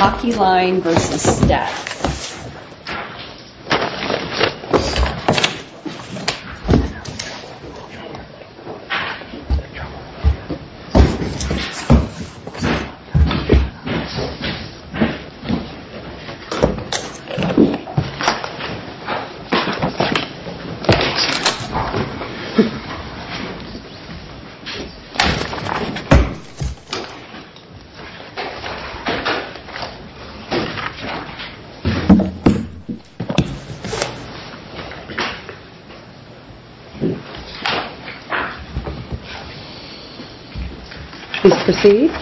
Hockeyline, Inc. v. Stats Good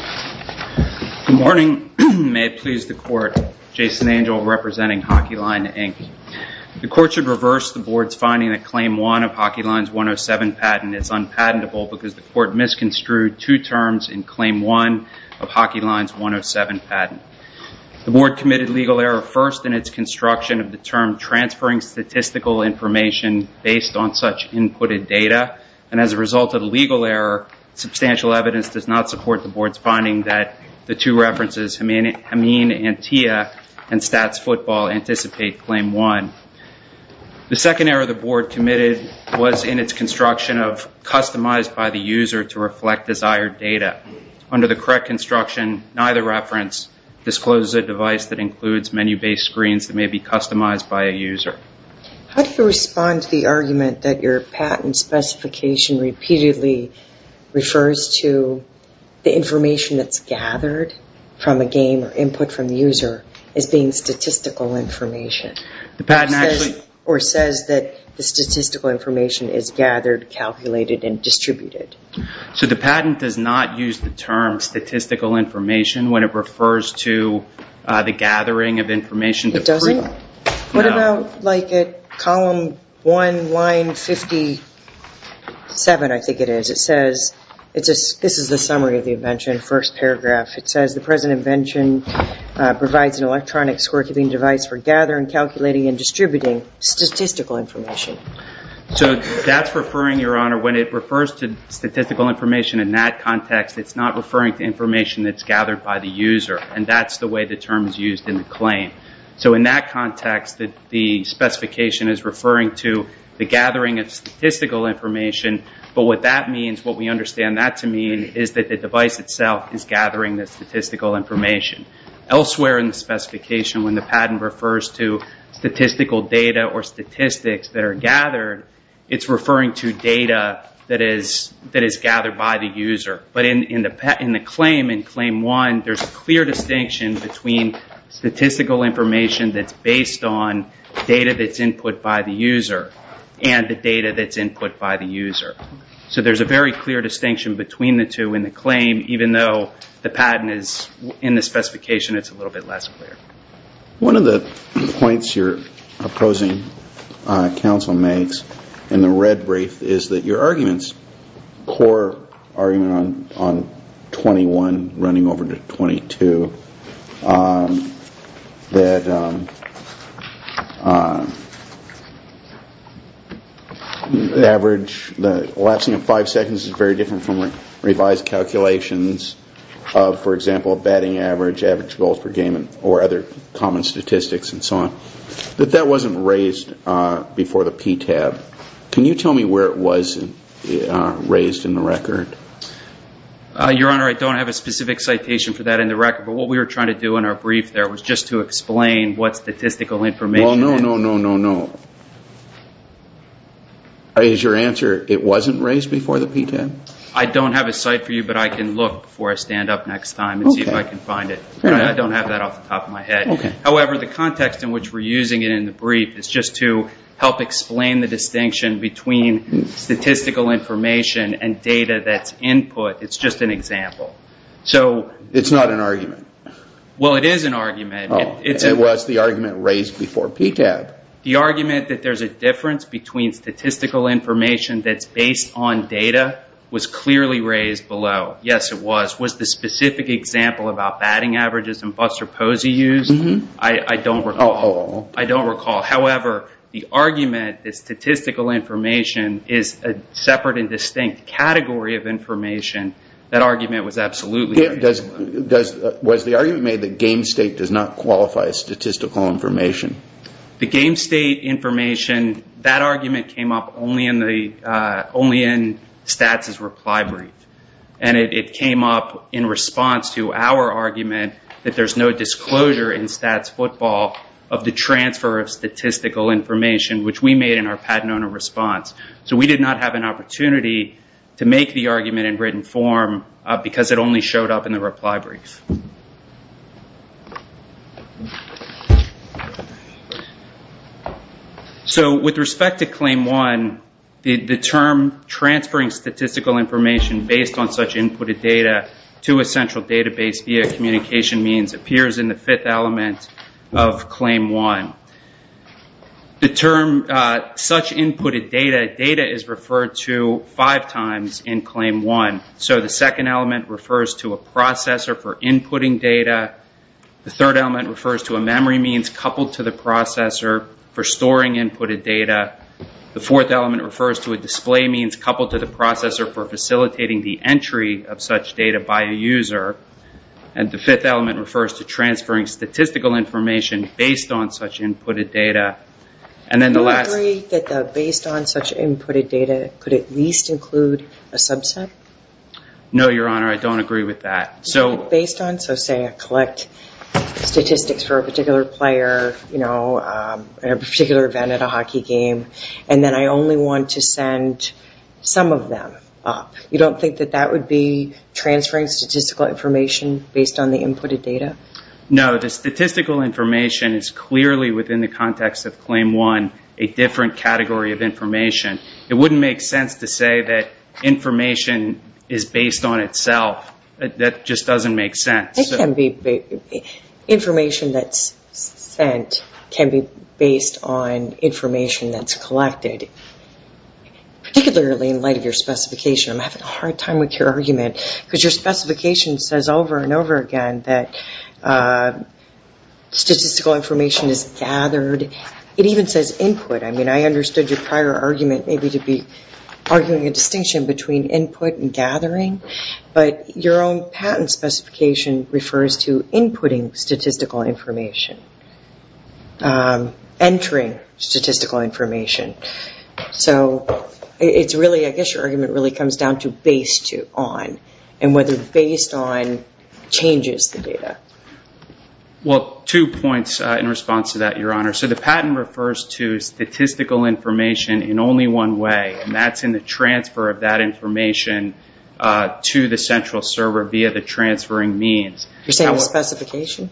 morning. May it please the Court, Jason Angel representing Hockeyline, Inc. The Court should reverse the Board's finding that Claim 1 of Hockeyline's 107 patent is unpatentable because the Court misconstrued two terms in Claim 1 of Hockeyline's 107 patent. The Board committed legal error first in its construction of the term transferring statistical information based on such inputted data, and as a result of the legal error, substantial evidence does not support the Board's finding that the two references, Hameen and Tia, and Stats Football anticipate Claim 1. The second error the Board committed was in its construction of customized by the user to reflect desired data. Under the correct construction, neither reference discloses a device that includes menu-based screens that may be customized by a user. How do you respond to the argument that your patent specification repeatedly refers to the information that's gathered from a game or input from the user as being statistical information? Or says that the statistical information is gathered, calculated, and distributed. So the patent does not use the term statistical information when it refers to the gathering of information. It doesn't? What about like at column 1, line 57, I think it is, it says, this is the summary of the invention, first paragraph, it says the present invention provides an electronic scorekeeping device for gathering, calculating, and distributing statistical information. So that's referring, Your Honor, when it refers to statistical information in that context, it's not referring to information that's gathered by the user, and that's the way the term is used in the claim. So in that context, the specification is referring to the gathering of statistical information, but what that means, what we understand that to mean, is that the device itself is gathering the statistical information. Elsewhere in the specification when the patent refers to statistical data or statistics that are gathered, it's referring to data that is gathered by the user. But in the claim, in claim 1, there's a clear distinction between statistical information that's based on data that's input by the user, and the data that's input by the user. So there's a very clear distinction between the two in the claim, even though the patent is in the specification, it's a little bit less clear. One of the points you're opposing, counsel makes, in the red brief, is that your argument's poor argument on 21 running over to 22, that average, the elapsing of five seconds is very different from revised calculations of, for example, batting average, average goals per game, or other common statistics and so on, that that wasn't raised before the PTAB. Can you tell me where it was raised in the record? Your Honor, I don't have a specific citation for that in the record, but what we were trying to do in our brief there was just to explain what statistical information... Well, no, no, no, no, no. Is your answer, it wasn't raised before the PTAB? I don't have a cite for you, but I can look before I stand up next time and see if I can find it. I don't have that off the top of my head. However, the context in which we're using it in the brief is just to help explain the distinction between statistical information and data that's input. It's just an example. It's not an argument. Well, it is an argument. It was the argument raised before PTAB. The argument that there's a difference between statistical information that's based on data was clearly raised below. Yes, it was. Was the specific example about batting averages and buster posey used? I don't recall. I don't recall. However, the argument that statistical information is a separate and distinct category of information, that argument was absolutely raised. Was the argument made that game state does not qualify as statistical information? The game state information, that argument came up only in Stats' reply brief. It came up in response to our argument that there's no disclosure in Stats football of the transfer of statistical information, which we made in our Pat Nona response. We did not have an opportunity to make the argument in written form because it only showed up in the reply brief. With respect to Claim 1, the term transferring statistical information based on such inputted data to a central database via communication means appears in the fifth element of Claim 1. The term such inputted data, data is referred to five times in Claim 1. The second element refers to a processor for inputting data. The third element refers to a memory means coupled to the processor for storing inputted data. The fourth element refers to a display means coupled to the processor for facilitating the entry of such data by a user. The fifth element refers to transferring statistical information based on such inputted data. Do you agree that based on such inputted data could at least include a subset? No, Your Honor, I don't agree with that. Based on, so say I collect statistics for a particular player, a particular event at a hockey game, and then I only want to send some of them up. You don't think that that would be transferring statistical information based on the inputted data? No, the statistical information is clearly within the context of Claim 1 a different category of information. It wouldn't make sense to say that information is based on itself. That just doesn't make sense. Information that's sent can be based on information that's collected, particularly in light of your specification. I'm having a hard time with your argument because your specification says over and over again that statistical information is gathered. It even says input. I mean, I understood your prior argument maybe to be arguing a distinction between input and gathering, but your own patent specification refers to inputting statistical information, entering statistical information. So it's really, I guess your argument really comes down to based on, and whether based on changes the data. Well, two points in response to that, Your Honor. So the patent refers to statistical information in only one way, and that's in the transfer of that information to the central server via the transferring means. You're saying the specification?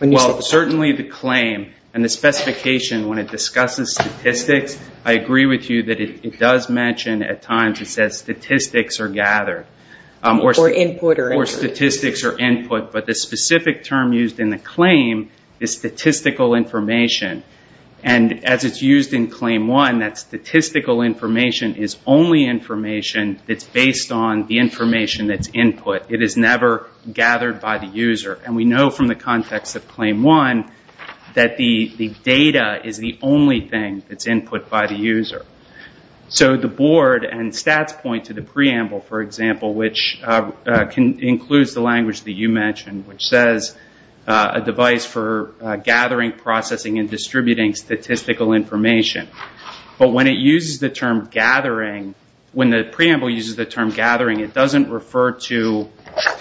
Well, certainly the claim and the specification when it discusses statistics, I agree with you that it does mention at times it says statistics are gathered. Or input. Or statistics are input, but the specific term used in the claim is statistical information, and as it's used in Claim 1, that statistical information is only information that's based on the information that's input. It is never gathered by the user, and we know from the context of Claim 1 that the data is the only thing that's input by the user. So the board and stats point to the preamble, for example, which includes the language that you mentioned, which says a device for gathering, processing, and distributing statistical information. But when it uses the term gathering, when the preamble uses the term gathering, it doesn't refer to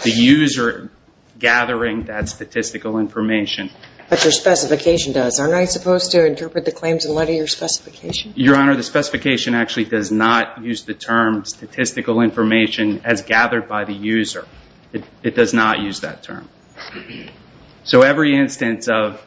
the user gathering that statistical information. But your specification does. Aren't I supposed to interpret the claims in light of your specification? Your Honor, the specification actually does not use the term statistical information as gathered by the user. It does not use that term. So every instance of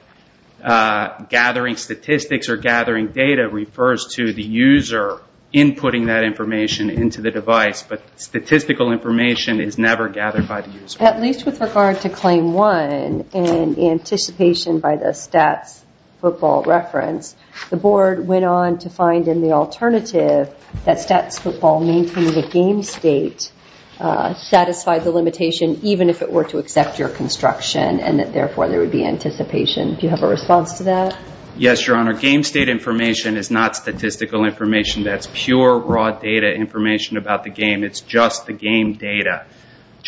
gathering statistics or gathering data refers to the user inputting that information into the device, but statistical information is never gathered by the user. At least with regard to Claim 1, in anticipation by the stats football reference, the board went on to find in the alternative that stats football maintaining a game state satisfied the limitation, even if it were to accept your construction, and that therefore there would be anticipation. Do you have a response to that? Yes, Your Honor. Game state information is not statistical information. That's pure raw data information about the game. It's just the game data.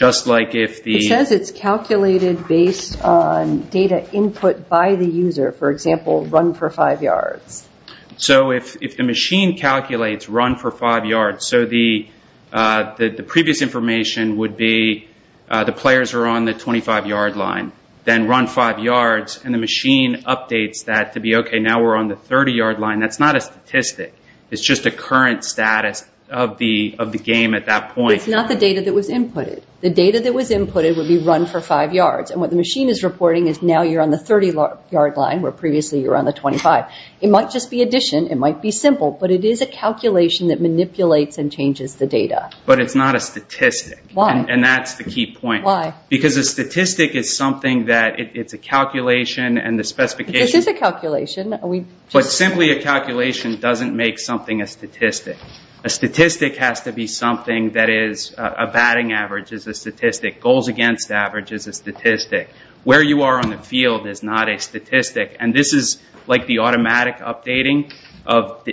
It says it's calculated based on data input by the user. For example, run for five yards. So if the machine calculates run for five yards, the previous information would be the players are on the 25-yard line, then run five yards, and the machine updates that to be okay, now we're on the 30-yard line. That's not a statistic. It's just a current status of the game at that point. It's not the data that was inputted. The data that was inputted would be run for five yards, and what the machine is reporting is now you're on the 30-yard line, where previously you were on the 25. It might just be addition. It might be simple, but it is a calculation that manipulates and changes the data. But it's not a statistic. Why? And that's the key point. Why? Because a statistic is something that it's a calculation, and the specification... This is a calculation. But simply a calculation doesn't make something a statistic. A statistic has to be something that is a batting average is a statistic, goals against average is a statistic. Where you are on the field is not a statistic. And this is like the automatic updating of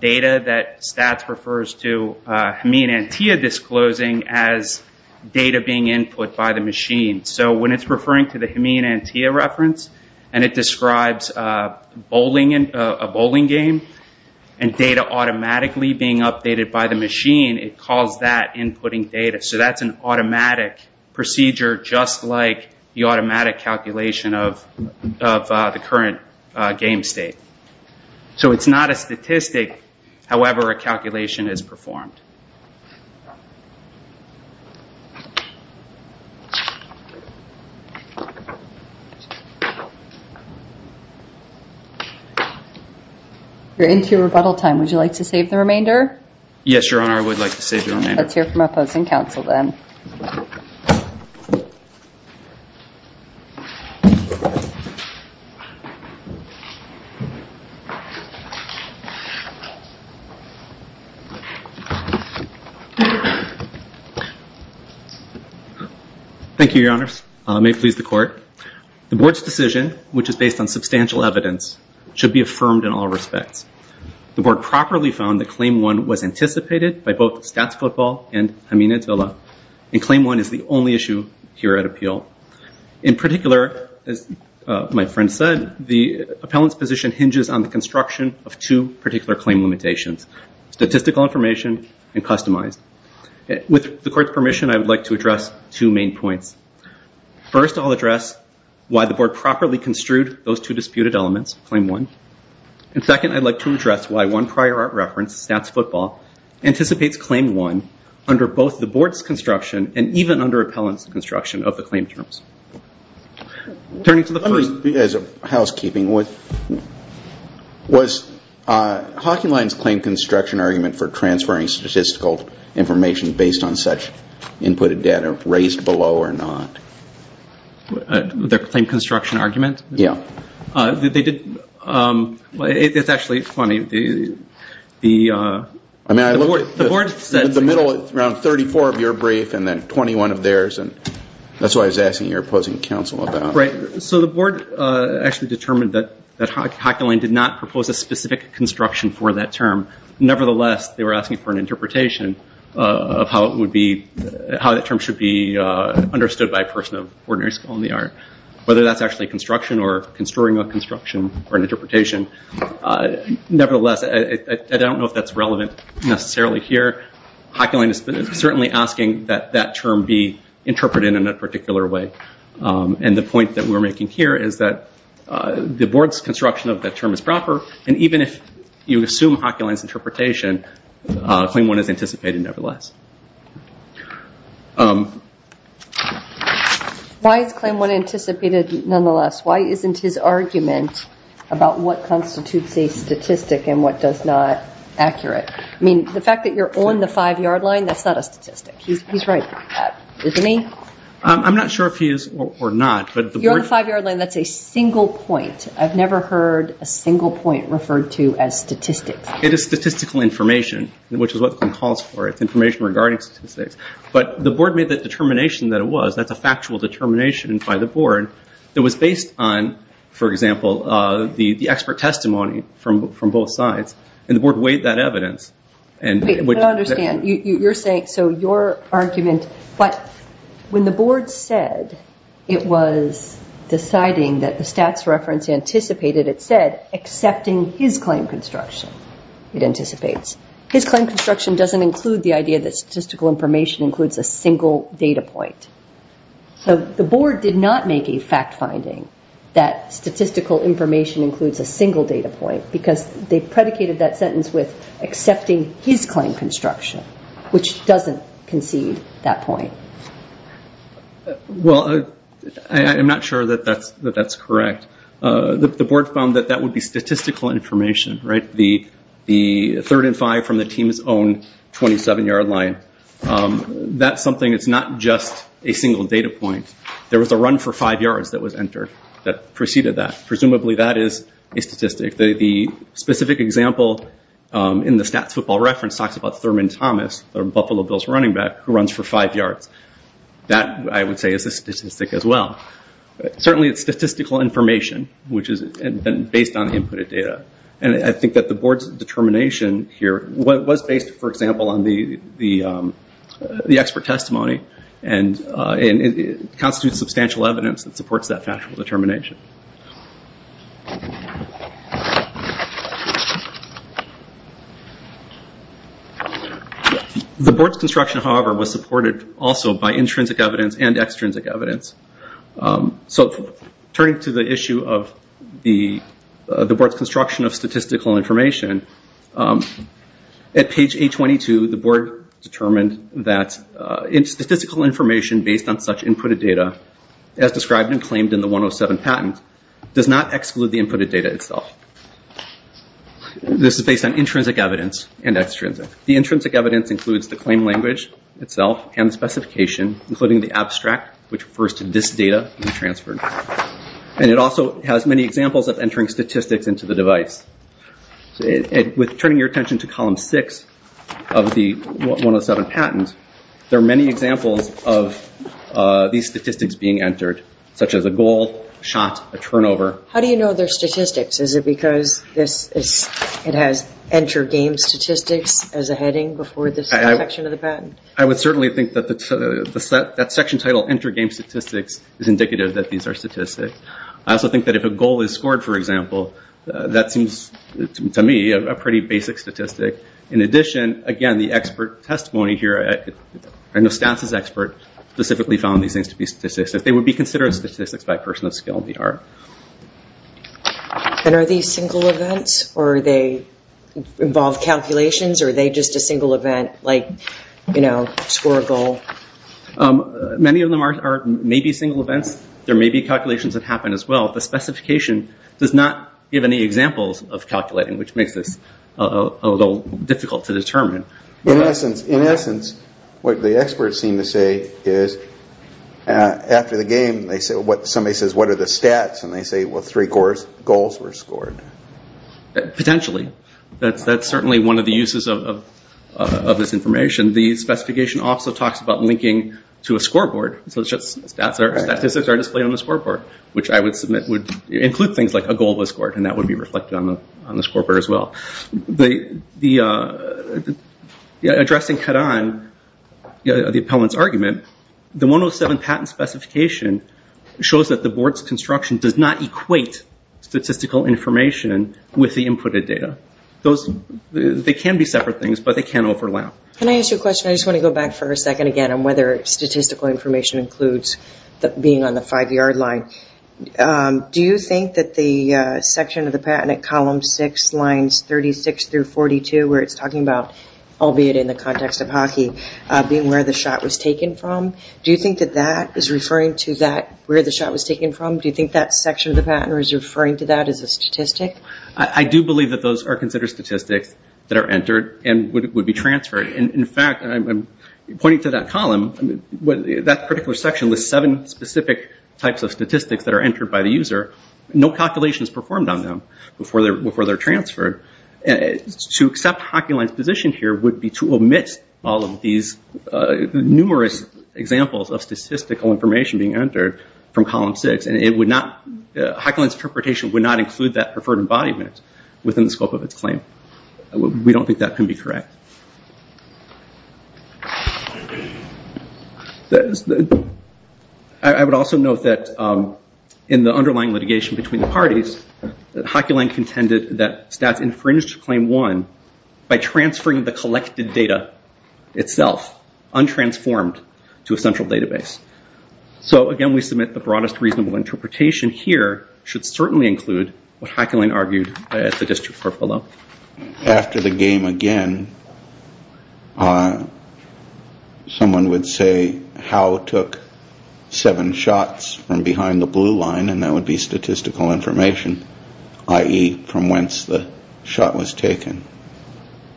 data that STATS refers to Hameen Antia disclosing as data being input by the machine. So when it's referring to the Hameen Antia reference, and it describes a bowling game, and data automatically being updated by the machine, it calls that inputting data. So that's an automatic procedure, just like the automatic calculation of the current game state. So it's not a statistic, however a calculation is performed. You're into your rebuttal time. Would you like to save the remainder? Yes, Your Honor. I would like to save the remainder. Let's hear from opposing counsel then. Thank you, Your Honors. May it please the court. The board's decision, which is based on substantial evidence, should be affirmed in all respects. The board properly found that Claim 1 was anticipated by both STATS Football and Hameen Antia, and Claim 1 is the only issue here at appeal. In particular, as my friend said, the appellant's position hinges on the construction of two particular claim limitations, statistical information and customized. With the court's permission, I would like to address two main points. First I'll address why the board properly construed those two disputed elements, Claim 1. And second, I'd like to address why one prior art reference, STATS Football, anticipates Claim 1 under both the board's construction and even under appellant's construction of the claim terms. Turning to the first... As a housekeeping, was Hocking Line's claim construction argument for transferring statistical information based on such inputted data raised below or not? Their claim construction argument? Yeah. They did... It's actually funny. The board said... I mean, I looked at the middle, around 34 of your brief and then 21 of theirs, and that's what I was asking your opposing counsel about. Right. So the board actually determined that Hocking Line did not propose a specific construction for that term. Nevertheless, they were asking for an interpretation of how that term should be understood by a person of ordinary skill in the art. Whether that's actually construction or construing a construction or an interpretation, nevertheless, I don't know if that's relevant necessarily here. Hocking Line is certainly asking that that term be interpreted in a particular way. And the point that we're making here is that the board's construction of that term is proper, and even if you assume Hocking Line's interpretation, Claim 1 is anticipated nevertheless. Why is Claim 1 anticipated nonetheless? Why isn't his argument about what constitutes a statistic and what does not accurate? I mean, the fact that you're on the five-yard line, that's not a statistic. He's right about that, isn't he? I'm not sure if he is or not, but the board... You're on the five-yard line. That's a single point. I've never heard a single point referred to as statistics. It is statistical information, which is what the claim calls for. It's information regarding statistics. But the board made that determination that it was. That's a factual determination by the board that was based on, for example, the expert testimony from both sides, and the board weighed that evidence. Wait, I don't understand. So your argument, when the board said it was deciding that the stats reference anticipated, it said, accepting his claim construction, it anticipates. His claim construction doesn't include the idea that statistical information includes a single data point. The board did not make a fact finding that statistical information includes a single data point, because they predicated that sentence with accepting his claim construction, which doesn't concede that point. Well, I'm not sure that that's correct. The board found that that would be statistical information, right? The third and five from the team's own 27-yard line. That's something that's not just a single data point. There was a run for five yards that was entered that preceded that. Presumably that is a statistic. The specific example in the stats football reference talks about Thurman Thomas, or Buffalo Bills running back, who runs for five yards. That I would say is a statistic as well. Certainly it's statistical information, which is based on inputted data. I think that the board's determination here was based, for example, on the expert testimony and constitutes substantial evidence that supports that factual determination. The board's construction, however, was supported also by intrinsic evidence and extrinsic evidence. Turning to the issue of the board's construction of statistical information, at page 822 the board determined that statistical information based on such inputted data, as described and claimed in the 107 patent, does not exclude the inputted data itself. This is based on intrinsic evidence and extrinsic. The intrinsic evidence includes the claim language itself and specification, including the abstract, which refers to this data being transferred. It also has many examples of entering statistics into the device. With turning your attention to column 6 of the 107 patent, there are many examples of these statistics being entered, such as a goal, shot, a turnover. How do you know they're statistics? Is it because it has enter game statistics as a heading before this section of the patent? I would certainly think that that section titled enter game statistics is indicative that these are statistics. I also think that if a goal is scored, for example, that seems to me a pretty basic statistic. In addition, again, the expert testimony here, I know Stats is an expert, specifically found these things to be statistics. They would be considered statistics by a person of skill in the art. Are these single events or do they involve calculations or are they just a single event like score a goal? Many of them may be single events. There may be calculations that happen as well. The specification does not give any examples of calculating, which makes this a little difficult to determine. In essence, what the experts seem to say is, after the game, somebody says, what are the stats and they say, well, three goals were scored. Potentially. That's certainly one of the uses of this information. The specification also talks about linking to a scoreboard, such as statistics are displayed on the scoreboard, which I would submit would include things like a goal was scored and that would be reflected on the scoreboard as well. Addressing Karan, the appellant's argument, the 107 patent specification shows that the They can be separate things, but they can overlap. Can I ask you a question? I just want to go back for a second again on whether statistical information includes being on the five yard line. Do you think that the section of the patent at column six, lines 36 through 42, where it's talking about, albeit in the context of hockey, being where the shot was taken from, do you think that that is referring to that where the shot was taken from? Do you think that section of the patent is referring to that as a statistic? I do believe that those are considered statistics that are entered and would be transferred. In fact, pointing to that column, that particular section lists seven specific types of statistics that are entered by the user. No calculations performed on them before they're transferred. To accept HockeyLine's position here would be to omit all of these numerous examples of statistical information being entered from column six and HockeyLine's interpretation would not include that preferred embodiment within the scope of its claim. We don't think that can be correct. I would also note that in the underlying litigation between the parties, HockeyLine contended that stats infringed claim one by transferring the collected data itself, untransformed, to a central database. Again, we submit the broadest reasonable interpretation here should certainly include what HockeyLine argued at the district court below. After the game again, someone would say, how it took seven shots from behind the blue line and that would be statistical information, i.e., from whence the shot was taken.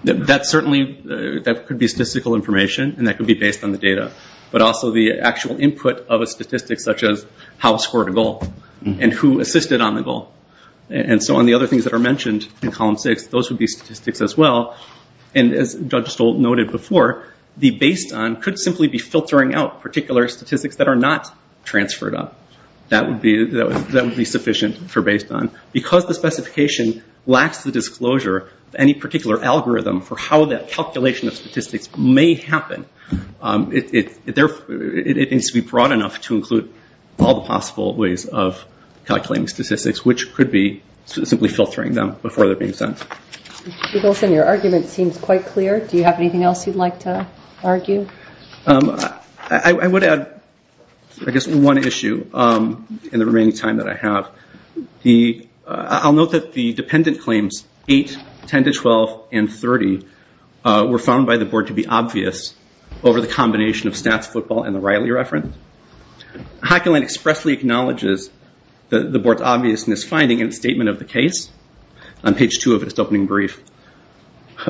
That certainly could be statistical information and that could be based on the data, but also the actual input of a statistic such as how it scored a goal and who assisted on the goal. On the other things that are mentioned in column six, those would be statistics as well. As Judge Stoll noted before, the based on could simply be filtering out particular statistics that are not transferred up. That would be sufficient for based on. Because the specification lacks the disclosure of any particular algorithm for how that calculation of statistics may happen, it needs to be broad enough to include all the possible ways of calculating statistics which could be simply filtering them before they are being sent. Your argument seems quite clear, do you have anything else you would like to argue? I would add one issue in the remaining time that I have. I'll note that the dependent claims 8, 10-12, and 30 were found by the board to be obvious over the combination of stats football and the Riley reference. HockeyLine expressly acknowledges the board's obviousness finding in statement of the case on page two of its opening brief.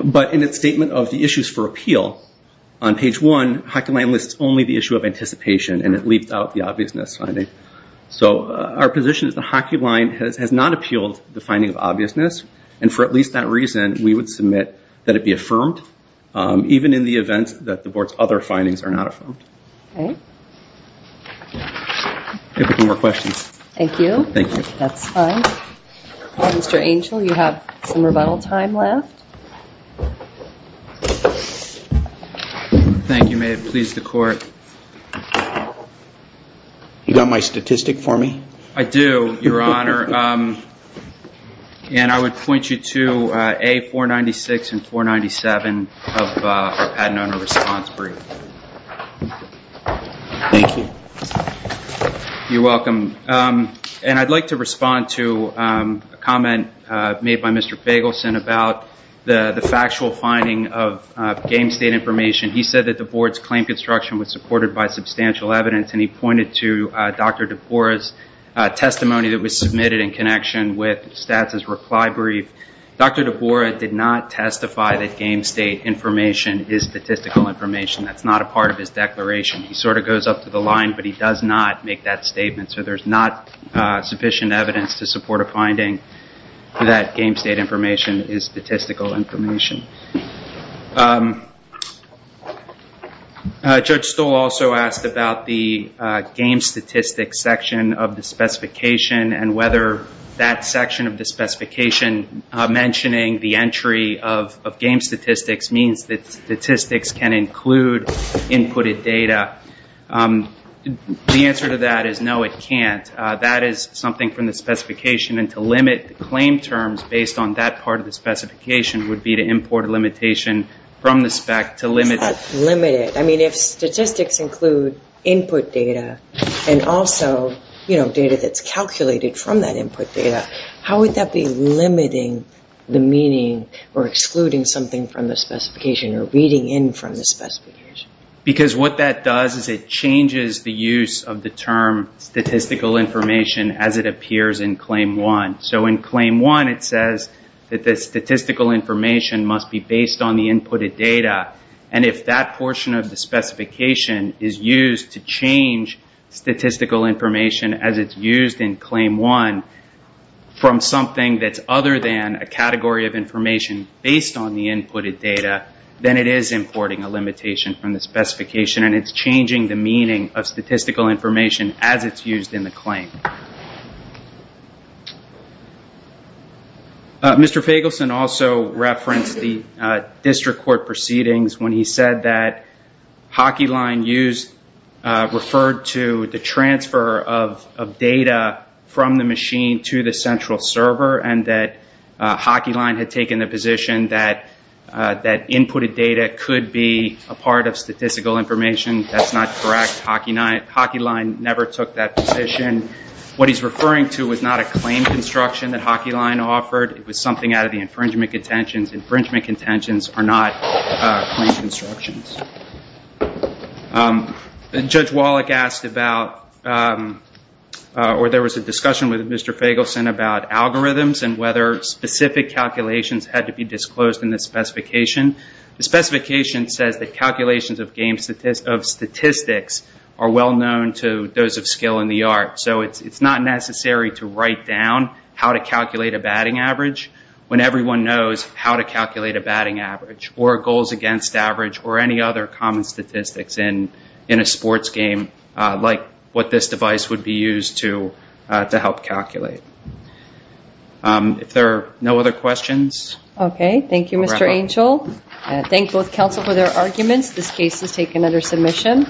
But in its statement of the issues for appeal on page one, HockeyLine lists only the issue of anticipation and it leaves out the obviousness finding. So our position is that HockeyLine has not appealed the finding of obviousness and for at least that reason, we would submit that it be affirmed even in the event that the board's other findings are not affirmed. Okay. If there are no more questions. Thank you. Thank you. That's fine. Mr. Angel, you have some rebuttal time left. Thank you, may it please the court. You got my statistic for me? I do, your honor. And I would point you to A496 and 497 of our patent owner response brief. Thank you. You're welcome. And I'd like to respond to a comment made by Mr. Bagelson about the factual finding of game state information. He said that the board's claim construction was supported by substantial evidence and he pointed to Dr. DeBorah's testimony that was submitted in connection with Stats' reply brief. Dr. DeBorah did not testify that game state information is statistical information. That's not a part of his declaration. He sort of goes up to the line but he does not make that statement. So there's not sufficient evidence to support a finding that game state information is statistical information. Judge Stoll also asked about the game statistics section of the specification and whether that section of the specification mentioning the entry of game statistics means that statistics can include inputted data. The answer to that is no, it can't. That is something from the specification and to limit the claim terms based on that part of the specification would be to import a limitation from the spec to limit it. Is that limited? I mean if statistics include input data and also data that's calculated from that input data, how would that be limiting the meaning or excluding something from the specification or reading in from the specification? Because what that does is it changes the use of the term statistical information as it appears in claim one. So in claim one it says that the statistical information must be based on the inputted data and if that portion of the specification is used to change statistical information as it's used in claim one from something that's other than a category of information based on the inputted data, then it is importing a limitation from the specification and it's changing the meaning of statistical information as it's used in the claim. Mr. Fagelson also referenced the district court proceedings when he said that Hockey Line used, referred to the transfer of data from the machine to the central server and that Hockey Line had taken the position that inputted data could be a part of statistical information. That's not correct, Hockey Line never took that position. What he's referring to is not a claim construction that Hockey Line offered, it was something out of the infringement contentions. Infringement contentions are not claim constructions. Judge Wallach asked about, or there was a discussion with Mr. Fagelson about algorithms and whether specific calculations had to be disclosed in the specification. The specification says that calculations of statistics are well known to those of skill in the art. So it's not necessary to write down how to calculate a batting average when everyone knows how to calculate a batting average or goals against average or any other common statistics in a sports game like what this device would be used to help calculate. If there are no other questions? Okay, thank you Mr. Angel. Thank both counsel for their arguments. This case is taken under submission.